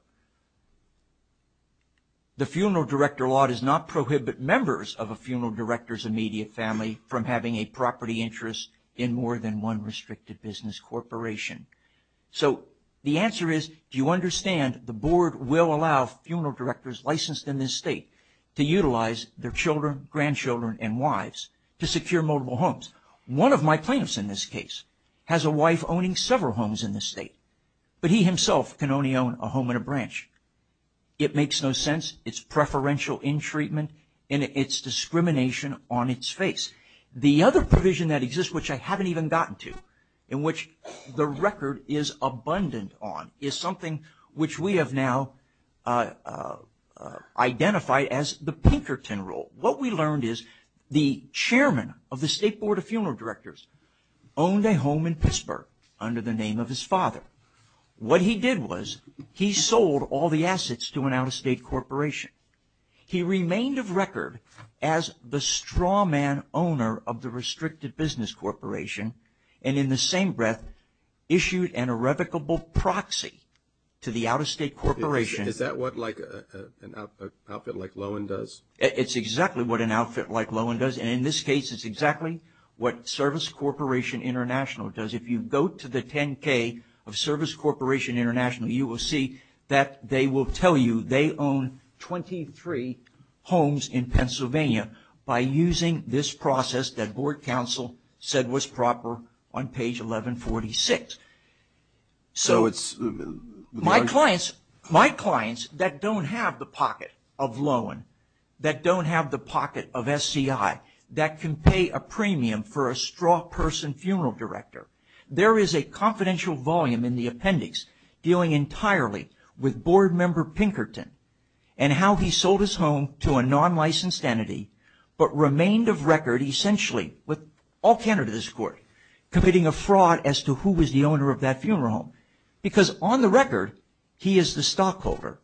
the funeral director law does not prohibit members of a funeral director's immediate family from having a property interest in more than one restricted business corporation. So the answer is, do you understand the Board will allow funeral directors licensed in this state to utilize their children, grandchildren, and wives to secure multiple homes? One of my plaintiffs in this case has a wife owning several homes in this state, but he himself can only own a home and a branch. It makes no sense. It's preferential in treatment, and it's discrimination on its face. The other provision that exists, which I haven't even gotten to, in which the record is abundant on, is something which we have now identified as the Pinkerton Rule. What we learned is the chairman of the State Board of Funeral Directors owned a home in Pittsburgh under the name of his father. What he did was he sold all the assets to an out-of-state corporation. He remained of record as the straw man owner of the restricted business corporation, and in the same breath issued an irrevocable proxy to the out-of-state corporation. Is that what an outfit like Lowen does? It's exactly what an outfit like Lowen does, and in this case it's exactly what Service Corporation International does. If you go to the 10-K of Service Corporation International, you will see that they will tell you they own 23 homes in Pennsylvania by using this process that board counsel said was proper on page 1146. So my clients that don't have the pocket of Lowen, that don't have the pocket of SCI, that can pay a premium for a straw person funeral director, there is a confidential volume in the appendix dealing entirely with board member Pinkerton and how he sold his home to a non-licensed entity but remained of record essentially with all candidates in court committing a fraud as to who was the owner of that funeral home. Because on the record he is the stockholder,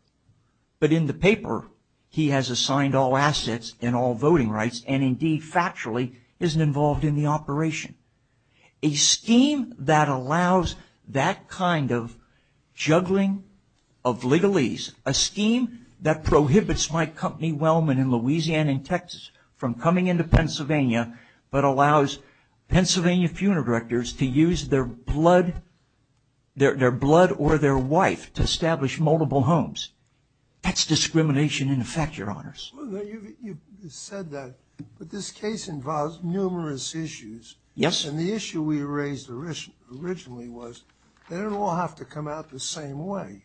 but in the paper he has assigned all assets and all voting rights and indeed factually isn't involved in the operation. A scheme that allows that kind of juggling of legalese, a scheme that prohibits my company Wellman in Louisiana and Texas from coming into Pennsylvania but allows Pennsylvania funeral directors to use their blood or their wife to establish multiple homes. That's discrimination in effect, Your Honors. You said that, but this case involves numerous issues. Yes. And the issue we raised originally was they don't all have to come out the same way.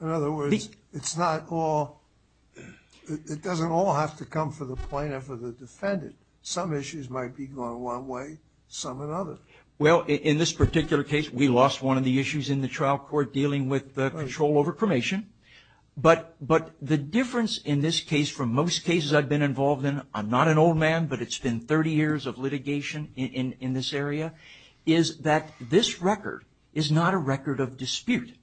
In other words, it doesn't all have to come for the plaintiff or the defendant. Some issues might be going one way, some another. Well, in this particular case, we lost one of the issues in the trial court dealing with the control over cremation. But the difference in this case from most cases I've been involved in, I'm not an old man, but it's been 30 years of litigation in this area, is that this record is not a record of dispute.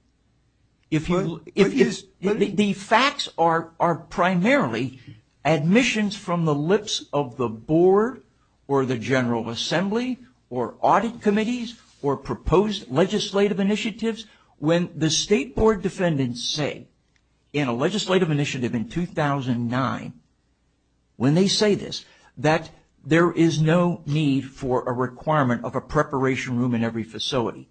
The facts are primarily admissions from the lips of the board or the General Assembly or audit committees or proposed legislative initiatives. When the State Board defendants say in a legislative initiative in 2009, when they say this, that there is no need for a requirement of a preparation room in every facility.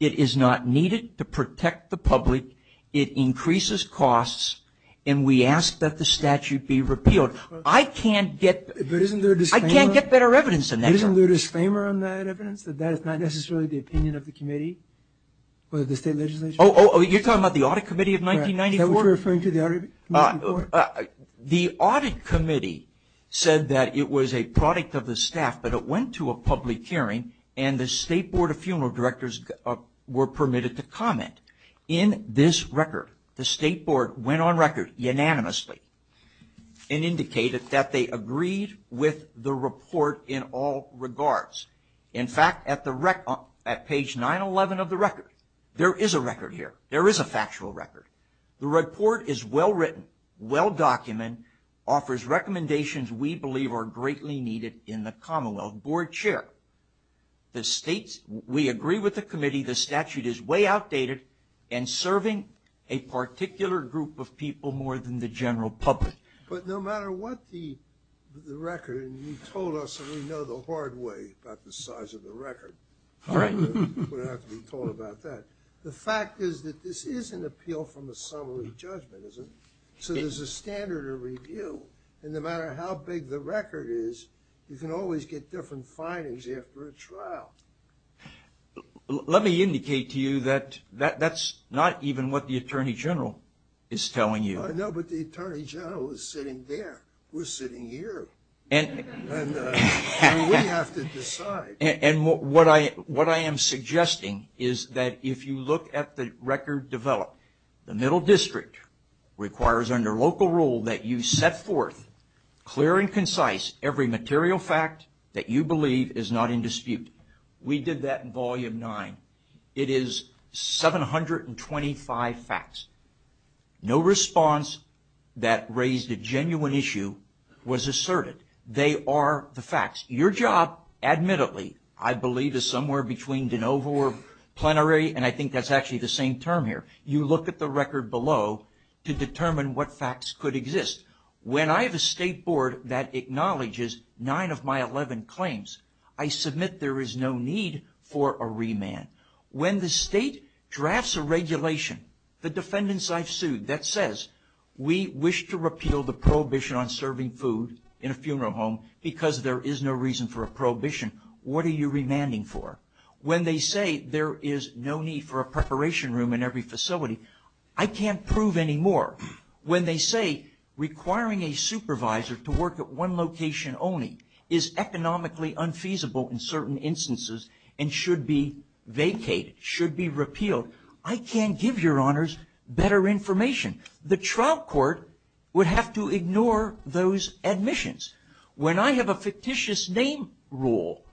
It is not needed to protect the public. It increases costs, and we ask that the statute be repealed. I can't get better evidence than that. Isn't there a disclaimer on that evidence, that that is not necessarily the opinion of the committee or the State Legislature? Oh, you're talking about the Audit Committee of 1994? Is that what you're referring to, the Audit Committee? The Audit Committee said that it was a product of the staff, but it went to a public hearing, and the State Board of Funeral Directors were permitted to comment. In this record, the State Board went on record unanimously and indicated that they agreed with the report in all regards. In fact, at page 911 of the record, there is a record here. There is a factual record. The report is well-written, well-documented, offers recommendations we believe are greatly needed in the Commonwealth. Board Chair, we agree with the committee. The statute is way outdated and serving a particular group of people more than the general public. But no matter what the record, and you told us that we know the hard way about the size of the record. All right. We don't have to be told about that. The fact is that this is an appeal from a summary judgment, isn't it? So there's a standard of review. And no matter how big the record is, you can always get different findings after a trial. Let me indicate to you that that's not even what the Attorney General is telling you. I know, but the Attorney General is sitting there. We're sitting here. And we have to decide. And what I am suggesting is that if you look at the record developed, the Middle District requires under local rule that you set forth clear and concise every material fact that you believe is not in dispute. We did that in Volume 9. It is 725 facts. No response that raised a genuine issue was asserted. They are the facts. Your job, admittedly, I believe is somewhere between de novo or plenary, and I think that's actually the same term here. You look at the record below to determine what facts could exist. When I have a State Board that acknowledges nine of my 11 claims, I submit there is no need for a remand. When the State drafts a regulation, the defendants I've sued, that says, we wish to repeal the prohibition on serving food in a funeral home because there is no reason for a prohibition, what are you remanding for? When they say there is no need for a preparation room in every facility, I can't prove any more. When they say requiring a supervisor to work at one location only is economically unfeasible in certain instances and should be vacated, should be repealed, I can't give your honors better information. The trial court would have to ignore those admissions. When I have a fictitious name rule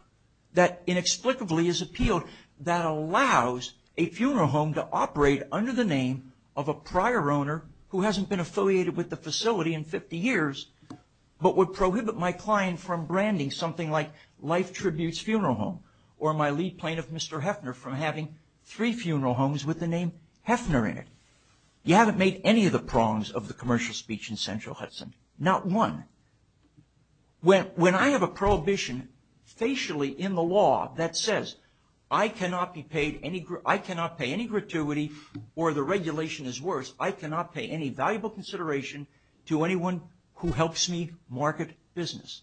that inexplicably is appealed that allows a funeral home to operate under the name of a prior owner who hasn't been affiliated with the facility in 50 years but would prohibit my client from branding something like Life Tributes Funeral Home or my lead plaintiff, Mr. Hefner, from having three funeral homes with the name Hefner in it. You haven't made any of the prongs of the commercial speech in Central Hudson. Not one. When I have a prohibition facially in the law that says I cannot pay any gratuity or the regulation is worse, I cannot pay any valuable consideration to anyone who helps me market business.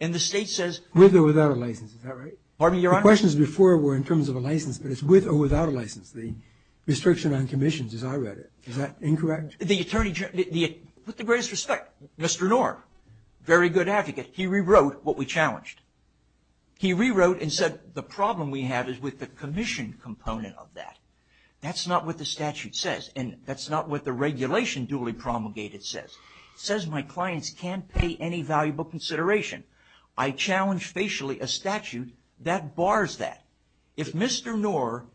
And the state says... With or without a license, is that right? Pardon me, your honor? The questions before were in terms of a license, but it's with or without a license, the restriction on commissions as I read it. Is that incorrect? With the greatest respect, Mr. Knorr, very good advocate, he rewrote what we challenged. He rewrote and said the problem we have is with the commission component of that. That's not what the statute says, and that's not what the regulation duly promulgated says. It says my clients can't pay any valuable consideration. I challenge facially a statute that bars that. If Mr. Knorr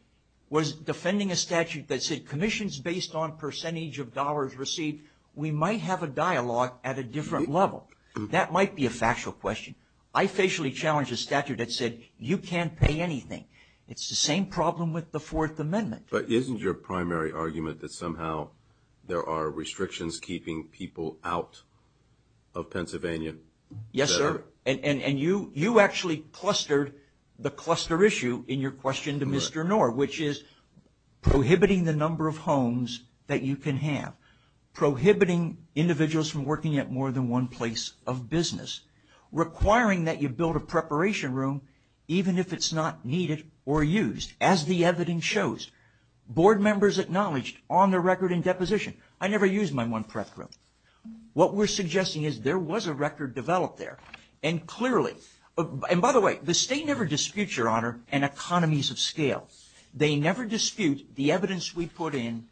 was defending a statute that said commissions based on percentage of dollars received, we might have a dialogue at a different level. That might be a factual question. I facially challenge a statute that said you can't pay anything. It's the same problem with the Fourth Amendment. But isn't your primary argument that somehow there are restrictions keeping people out of Pennsylvania? Yes, sir. And you actually clustered the cluster issue in your question to Mr. Knorr, which is prohibiting the number of homes that you can have, prohibiting individuals from working at more than one place of business, requiring that you build a preparation room even if it's not needed or used. As the evidence shows, board members acknowledged on their record in deposition, I never used my one-prep room. What we're suggesting is there was a record developed there, and clearly. And by the way, the state never disputes, Your Honor, in economies of scale. They never dispute the evidence we put in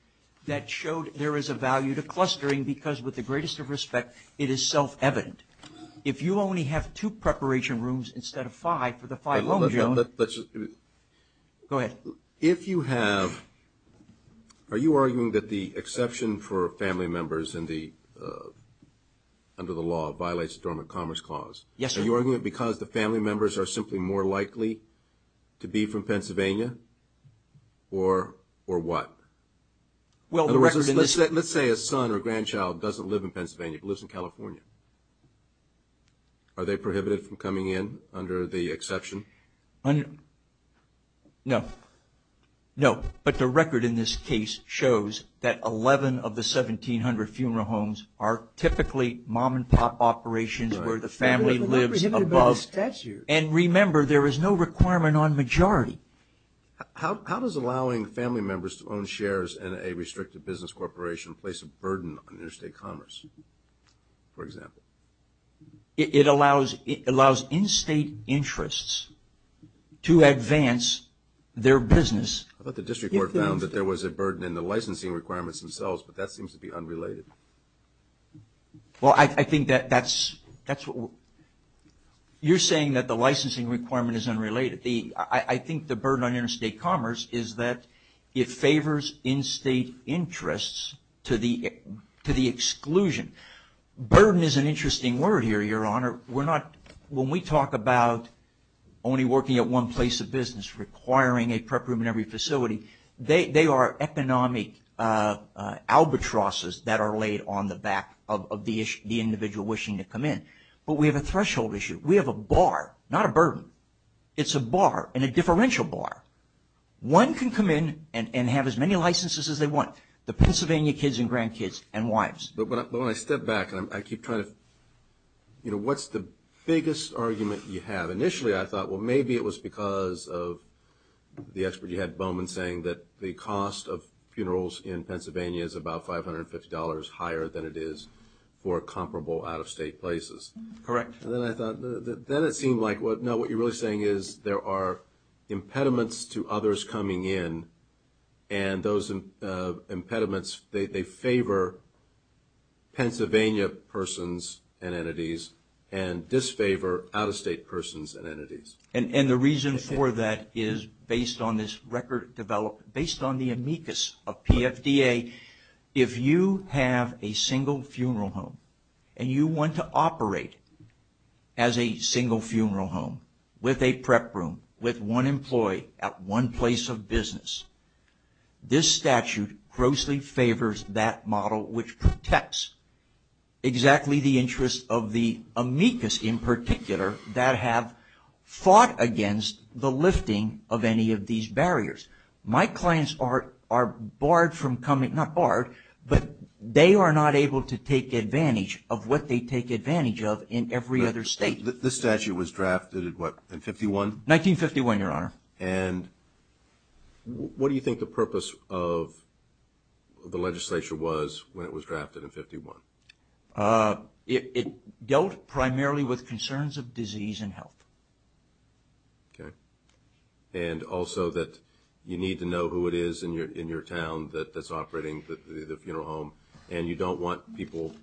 that showed there is a value to clustering because with the greatest of respect, it is self-evident. If you only have two preparation rooms instead of five for the five homes, Your Honor. Go ahead. If you have, are you arguing that the exception for family members under the law violates the Dormant Commerce Clause? Yes, sir. Are you arguing it because the family members are simply more likely to be from Pennsylvania or what? Let's say a son or grandchild doesn't live in Pennsylvania but lives in California. Are they prohibited from coming in under the exception? No. No. But the record in this case shows that 11 of the 1,700 funeral homes are typically mom-and-pop operations where the family lives above. And remember, there is no requirement on majority. How does allowing family members to own shares in a restricted business corporation place a burden on interstate commerce, for example? It allows in-state interests to advance their business. I thought the district court found that there was a burden in the licensing requirements themselves, but that seems to be unrelated. Well, I think that's what we're – you're saying that the licensing requirement is unrelated. I think the burden on interstate commerce is that it favors in-state interests to the exclusion. Burden is an interesting word here, Your Honor. We're not – when we talk about only working at one place of business requiring a prep room in every facility, they are economic albatrosses that are laid on the back of the individual wishing to come in. But we have a threshold issue. We have a bar, not a burden. It's a bar and a differential bar. One can come in and have as many licenses as they want, the Pennsylvania kids and grandkids and wives. But when I step back and I keep trying to – what's the biggest argument you have? Initially, I thought, well, maybe it was because of the expert you had, Bowman, saying that the cost of funerals in Pennsylvania is about $550 higher than it is for comparable out-of-state places. Correct. And then I thought – then it seemed like, no, what you're really saying is there are impediments to others coming in, and those impediments, they favor Pennsylvania persons and entities and disfavor out-of-state persons and entities. And the reason for that is based on this record – based on the amicus of PFDA, if you have a single funeral home and you want to operate as a single funeral home with a prep room, with one employee at one place of business, this statute grossly favors that model, which protects exactly the interests of the amicus in particular that have fought against the lifting of any of these barriers. My clients are barred from coming – not barred, but they are not able to take advantage of what they take advantage of in every other state. This statute was drafted in what, in 1951? 1951, Your Honor. And what do you think the purpose of the legislature was when it was drafted in 1951? It dealt primarily with concerns of disease and health. Okay. And also that you need to know who it is in your town that's operating the funeral home, and you don't want people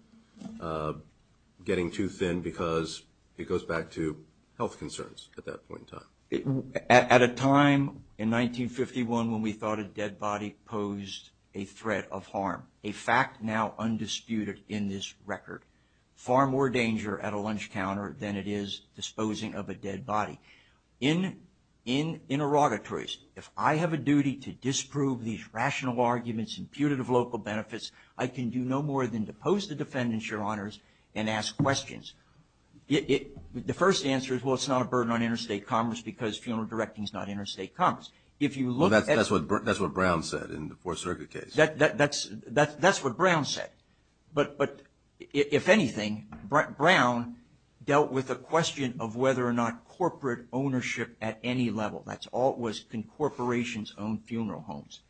getting too thin because it goes back to health concerns at that point in time. At a time in 1951 when we thought a dead body posed a threat of harm, a fact now undisputed in this record, far more danger at a lunch counter than it is disposing of a dead body. In interrogatories, if I have a duty to disprove these rational arguments imputed of local benefits, I can do no more than to pose the defendants, Your Honors, and ask questions. The first answer is, well, it's not a burden on interstate commerce because funeral directing is not interstate commerce. If you look at – Well, that's what Brown said in the Fourth Circuit case. That's what Brown said. But if anything, Brown dealt with the question of whether or not corporate ownership at any level, that's all it was, can corporations own funeral homes?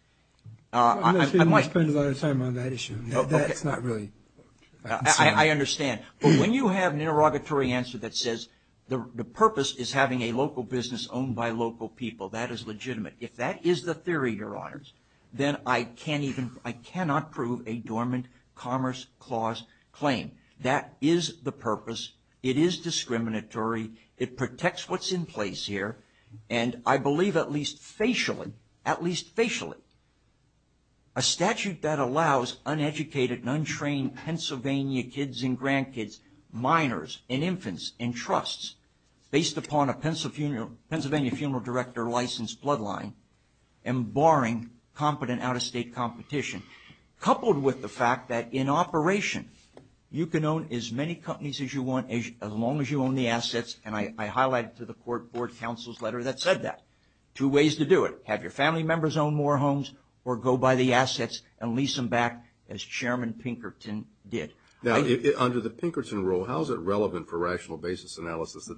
Unless they want to spend a lot of time on that issue. That's not really – I understand. But when you have an interrogatory answer that says the purpose is having a local business owned by local people, that is legitimate. If that is the theory, Your Honors, then I cannot prove a dormant Commerce Clause claim. That is the purpose. It is discriminatory. It protects what's in place here. And I believe at least facially, at least facially, a statute that allows uneducated and untrained Pennsylvania kids and grandkids, minors and infants in trusts based upon a Pennsylvania funeral director licensed bloodline and barring competent out-of-state competition, coupled with the fact that in operation you can own as many companies as you want as long as you own the assets. And I highlighted to the Court Board Counsel's letter that said that. Two ways to do it. Have your family members own more homes or go buy the assets and lease them back as Chairman Pinkerton did. Now, under the Pinkerton rule, how is it relevant for rational basis analysis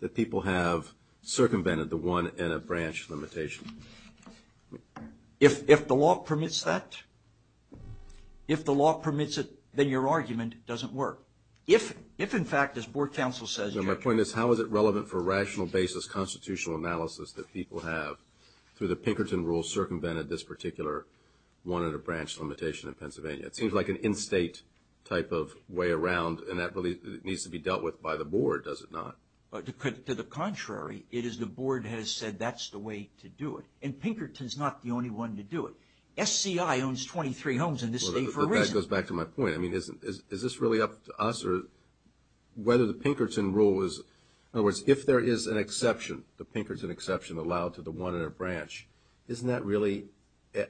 that people have circumvented the one-and-a-branch limitation? If the law permits that, if the law permits it, then your argument doesn't work. If, in fact, as Board Counsel says – No, my point is how is it relevant for rational basis constitutional analysis that people have, through the Pinkerton rule, circumvented this particular one-and-a-branch limitation in Pennsylvania? It seems like an in-state type of way around, and that really needs to be dealt with by the Board, does it not? To the contrary, it is the Board has said that's the way to do it. And Pinkerton's not the only one to do it. SCI owns 23 homes in this state for a reason. That goes back to my point. I mean, is this really up to us or whether the Pinkerton rule is – in other words, if there is an exception, the Pinkerton exception allowed to the one-and-a-branch, isn't that really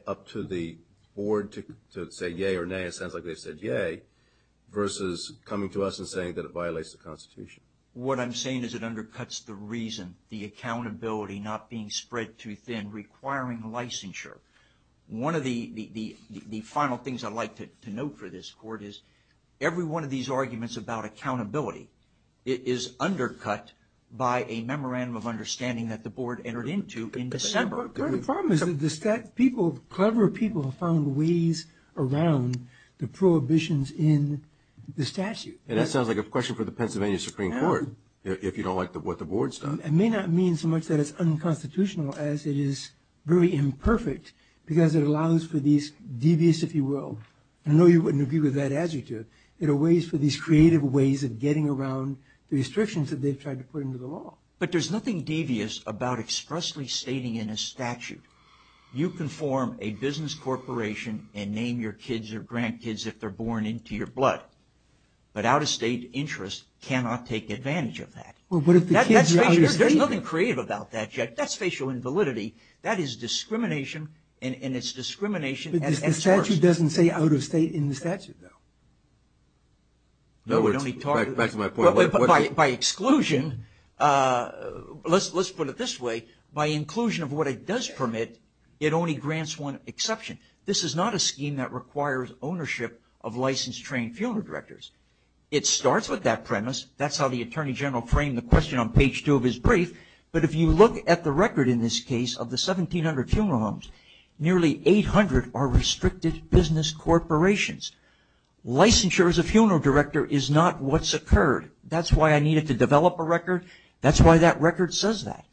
up to the Board to say yay or nay, it sounds like they've said yay, versus coming to us and saying that it violates the Constitution? What I'm saying is it undercuts the reason, the accountability not being spread too thin, requiring licensure. One of the final things I'd like to note for this Court is every one of these arguments about accountability is undercut by a memorandum of understanding that the Board entered into in December. But the problem is that clever people have found ways around the prohibitions in the statute. And that sounds like a question for the Pennsylvania Supreme Court, if you don't like what the Board's done. It may not mean so much that it's unconstitutional as it is very imperfect because it allows for these devious, if you will – I know you wouldn't agree with that adjective – it allows for these creative ways of getting around the restrictions that they've tried to put into the law. But there's nothing devious about expressly stating in a statute, you can form a business corporation and name your kids or grandkids if they're born into your blood. But out-of-state interests cannot take advantage of that. Well, what if the kids are out-of-state? There's nothing creative about that yet. That's facial invalidity. That is discrimination, and it's discrimination at its worst. The statute doesn't say out-of-state in the statute, though. Back to my point. By exclusion – let's put it this way. By inclusion of what it does permit, it only grants one exception. This is not a scheme that requires ownership of licensed, trained funeral directors. It starts with that premise. That's how the Attorney General framed the question on page two of his brief. But if you look at the record in this case of the 1,700 funeral homes, nearly 800 are restricted business corporations. Licensure as a funeral director is not what's occurred. That's why I needed to develop a record. That's why that record says that.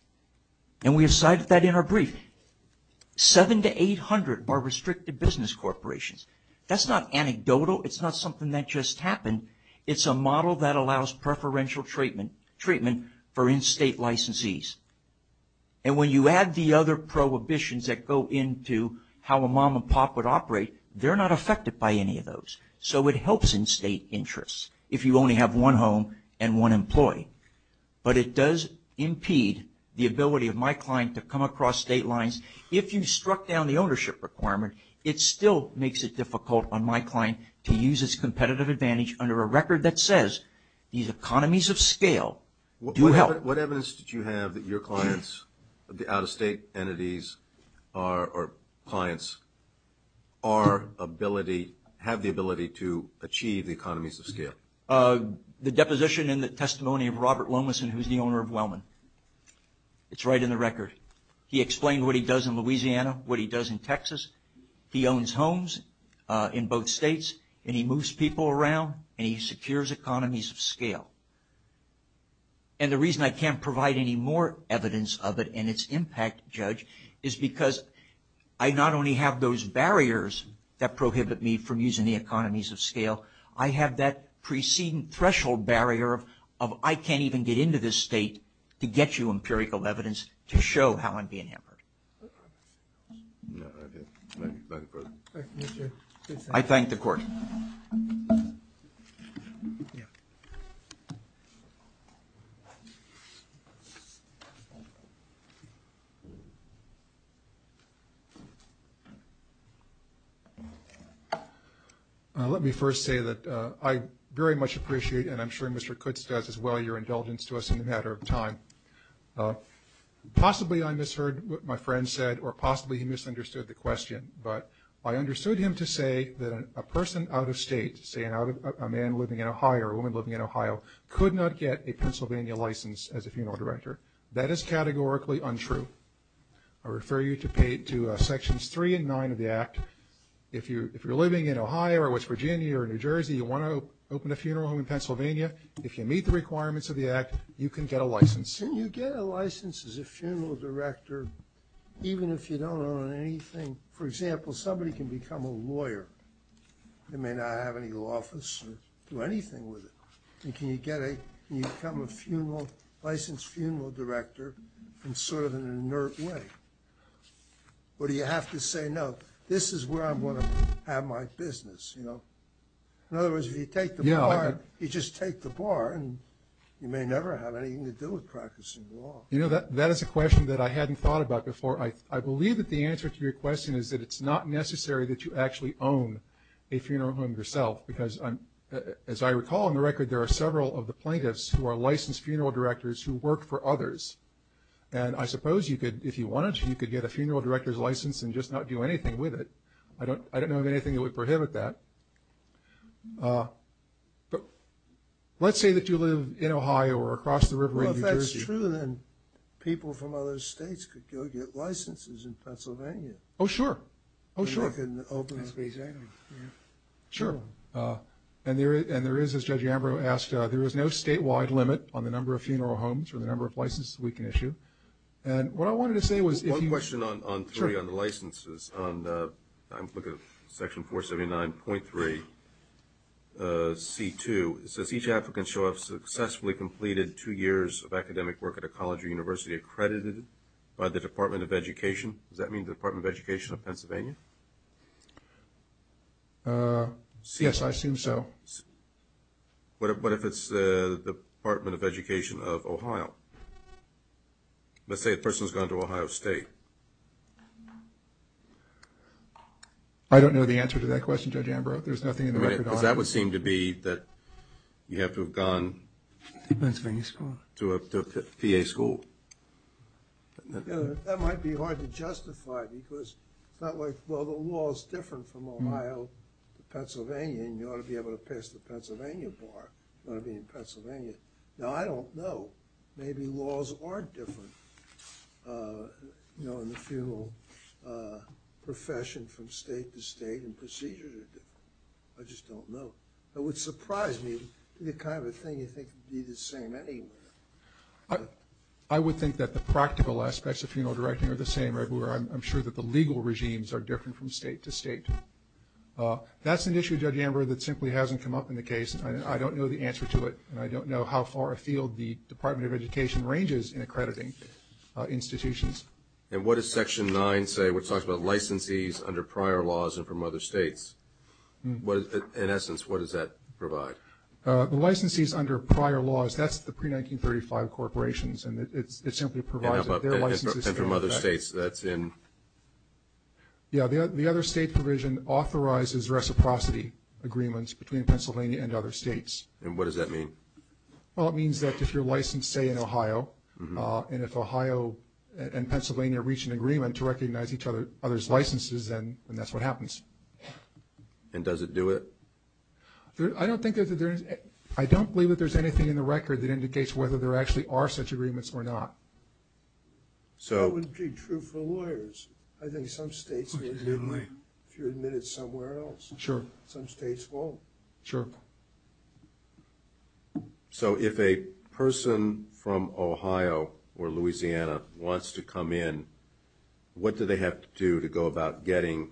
And we have cited that in our brief. Seven to 800 are restricted business corporations. That's not anecdotal. It's not something that just happened. It's a model that allows preferential treatment for in-state licensees. And when you add the other prohibitions that go into how a mom and pop would operate, they're not affected by any of those. So it helps in-state interests if you only have one home and one employee. But it does impede the ability of my client to come across state lines. If you struck down the ownership requirement, it still makes it difficult on my client to use its competitive advantage under a record that says these economies of scale do help. What evidence did you have that your clients, the out-of-state entities, or clients have the ability to achieve the economies of scale? The deposition in the testimony of Robert Lomason, who's the owner of Wellman. It's right in the record. He explained what he does in Louisiana, what he does in Texas. He owns homes in both states, and he moves people around, and he secures economies of scale. And the reason I can't provide any more evidence of it and its impact, Judge, is because I not only have those barriers that prohibit me from using the economies of scale, I have that preceding threshold barrier of I can't even get into this state to get you empirical evidence to show how I'm being hammered. I thank the Court. Let me first say that I very much appreciate, and I'm sure Mr. Kutz does as well, your indulgence to us in a matter of time. Possibly I misheard what my friend said, or possibly he misunderstood the question, but I understood him to say that a person out-of-state, say a man living in Ohio or a woman living in Ohio, could not get a Pennsylvania license as a funeral director. That is categorically untrue. I refer you to Sections 3 and 9 of the Act. If you're living in Ohio or West Virginia or New Jersey, you want to open a funeral home in Pennsylvania. If you meet the requirements of the Act, you can get a license. Can you get a license as a funeral director even if you don't own anything? For example, somebody can become a lawyer. They may not have any office or do anything with it. Can you become a licensed funeral director in sort of an inert way? Or do you have to say, no, this is where I'm going to have my business? In other words, if you take the bar, you just take the bar, and you may never have anything to do with practicing law. You know, that is a question that I hadn't thought about before. I believe that the answer to your question is that it's not necessary that you actually own a funeral home yourself because, as I recall on the record, there are several of the plaintiffs who are licensed funeral directors who work for others. And I suppose if you wanted to, you could get a funeral director's license and just not do anything with it. I don't know of anything that would prohibit that. But let's say that you live in Ohio or across the river in New Jersey. Well, if that's true, then people from other states could go get licenses in Pennsylvania. Oh, sure. Oh, sure. And they can open up. Sure. And there is, as Judge Ambrose asked, there is no statewide limit on the number of funeral homes or the number of licenses we can issue. And what I wanted to say was if you... One question on three, on the licenses. I'm looking at Section 479.3C2. It says each applicant shall have successfully completed two years of academic work at a college or university accredited by the Department of Education. Does that mean the Department of Education of Pennsylvania? Yes, I assume so. What if it's the Department of Education of Ohio? Let's say a person has gone to Ohio State. I don't know the answer to that question, Judge Ambrose. There's nothing in the record on it. Because that would seem to be that you have to have gone... To a Pennsylvania school. To a PA school. That might be hard to justify because it's not like, well, the law is different from Ohio to Pennsylvania, and you ought to be able to pass the Pennsylvania bar. You ought to be in Pennsylvania. Now, I don't know. Maybe laws are different, you know, in the funeral profession from state to state, and procedures are different. I just don't know. It would surprise me the kind of thing you think would be the same anywhere. I would think that the practical aspects of funeral directing are the same everywhere. I'm sure that the legal regimes are different from state to state. That's an issue, Judge Ambrose, that simply hasn't come up in the case. I don't know the answer to it, and I don't know how far afield the Department of Education ranges in accrediting institutions. And what does Section 9 say? It talks about licensees under prior laws and from other states. In essence, what does that provide? The licensees under prior laws, that's the pre-1935 corporations, and it simply provides that they're licensees. And from other states, that's in... Yeah, the other state provision authorizes reciprocity agreements between Pennsylvania and other states. And what does that mean? Well, it means that if you're licensed, say, in Ohio, and if Ohio and Pennsylvania reach an agreement to recognize each other's licenses, then that's what happens. And does it do it? I don't think that there's... I don't believe that there's anything in the record that indicates whether there actually are such agreements or not. So... That wouldn't be true for lawyers. I think some states would, if you're admitted somewhere else. Sure. Some states won't. Sure. So if a person from Ohio or Louisiana wants to come in, what do they have to do to go about getting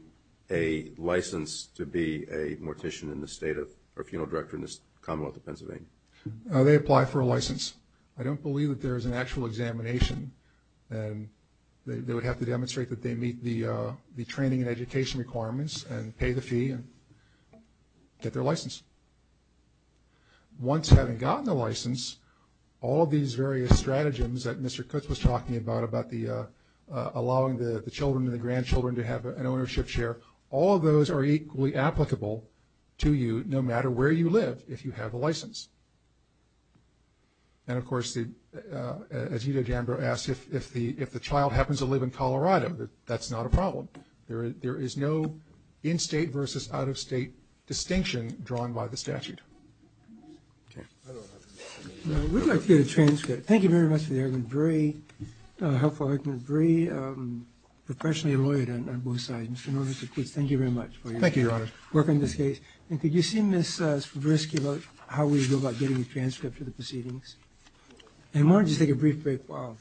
a license to be a mortician in the state of... or a funeral director in the Commonwealth of Pennsylvania? They apply for a license. I don't believe that there is an actual examination. They would have to demonstrate that they meet the training and education requirements and pay the fee and get their license. Once having gotten the license, all of these various stratagems that Mr. Coates was talking about, about allowing the children and the grandchildren to have an ownership share, all of those are equally applicable to you no matter where you live, if you have a license. And, of course, as Edith Amber asked, if the child happens to live in Colorado, that's not a problem. There is no in-state versus out-of-state distinction drawn by the statute. Okay. I would like to get a transcript. Thank you very much for the argument. Very helpful argument. Very professionally lawyered on both sides. Mr. Norton, Mr. Coates, thank you very much for your work on this case. Thank you, Your Honor. And could you see Ms. Brisk about how we go about getting a transcript for the proceedings? And why don't you just take a brief break while...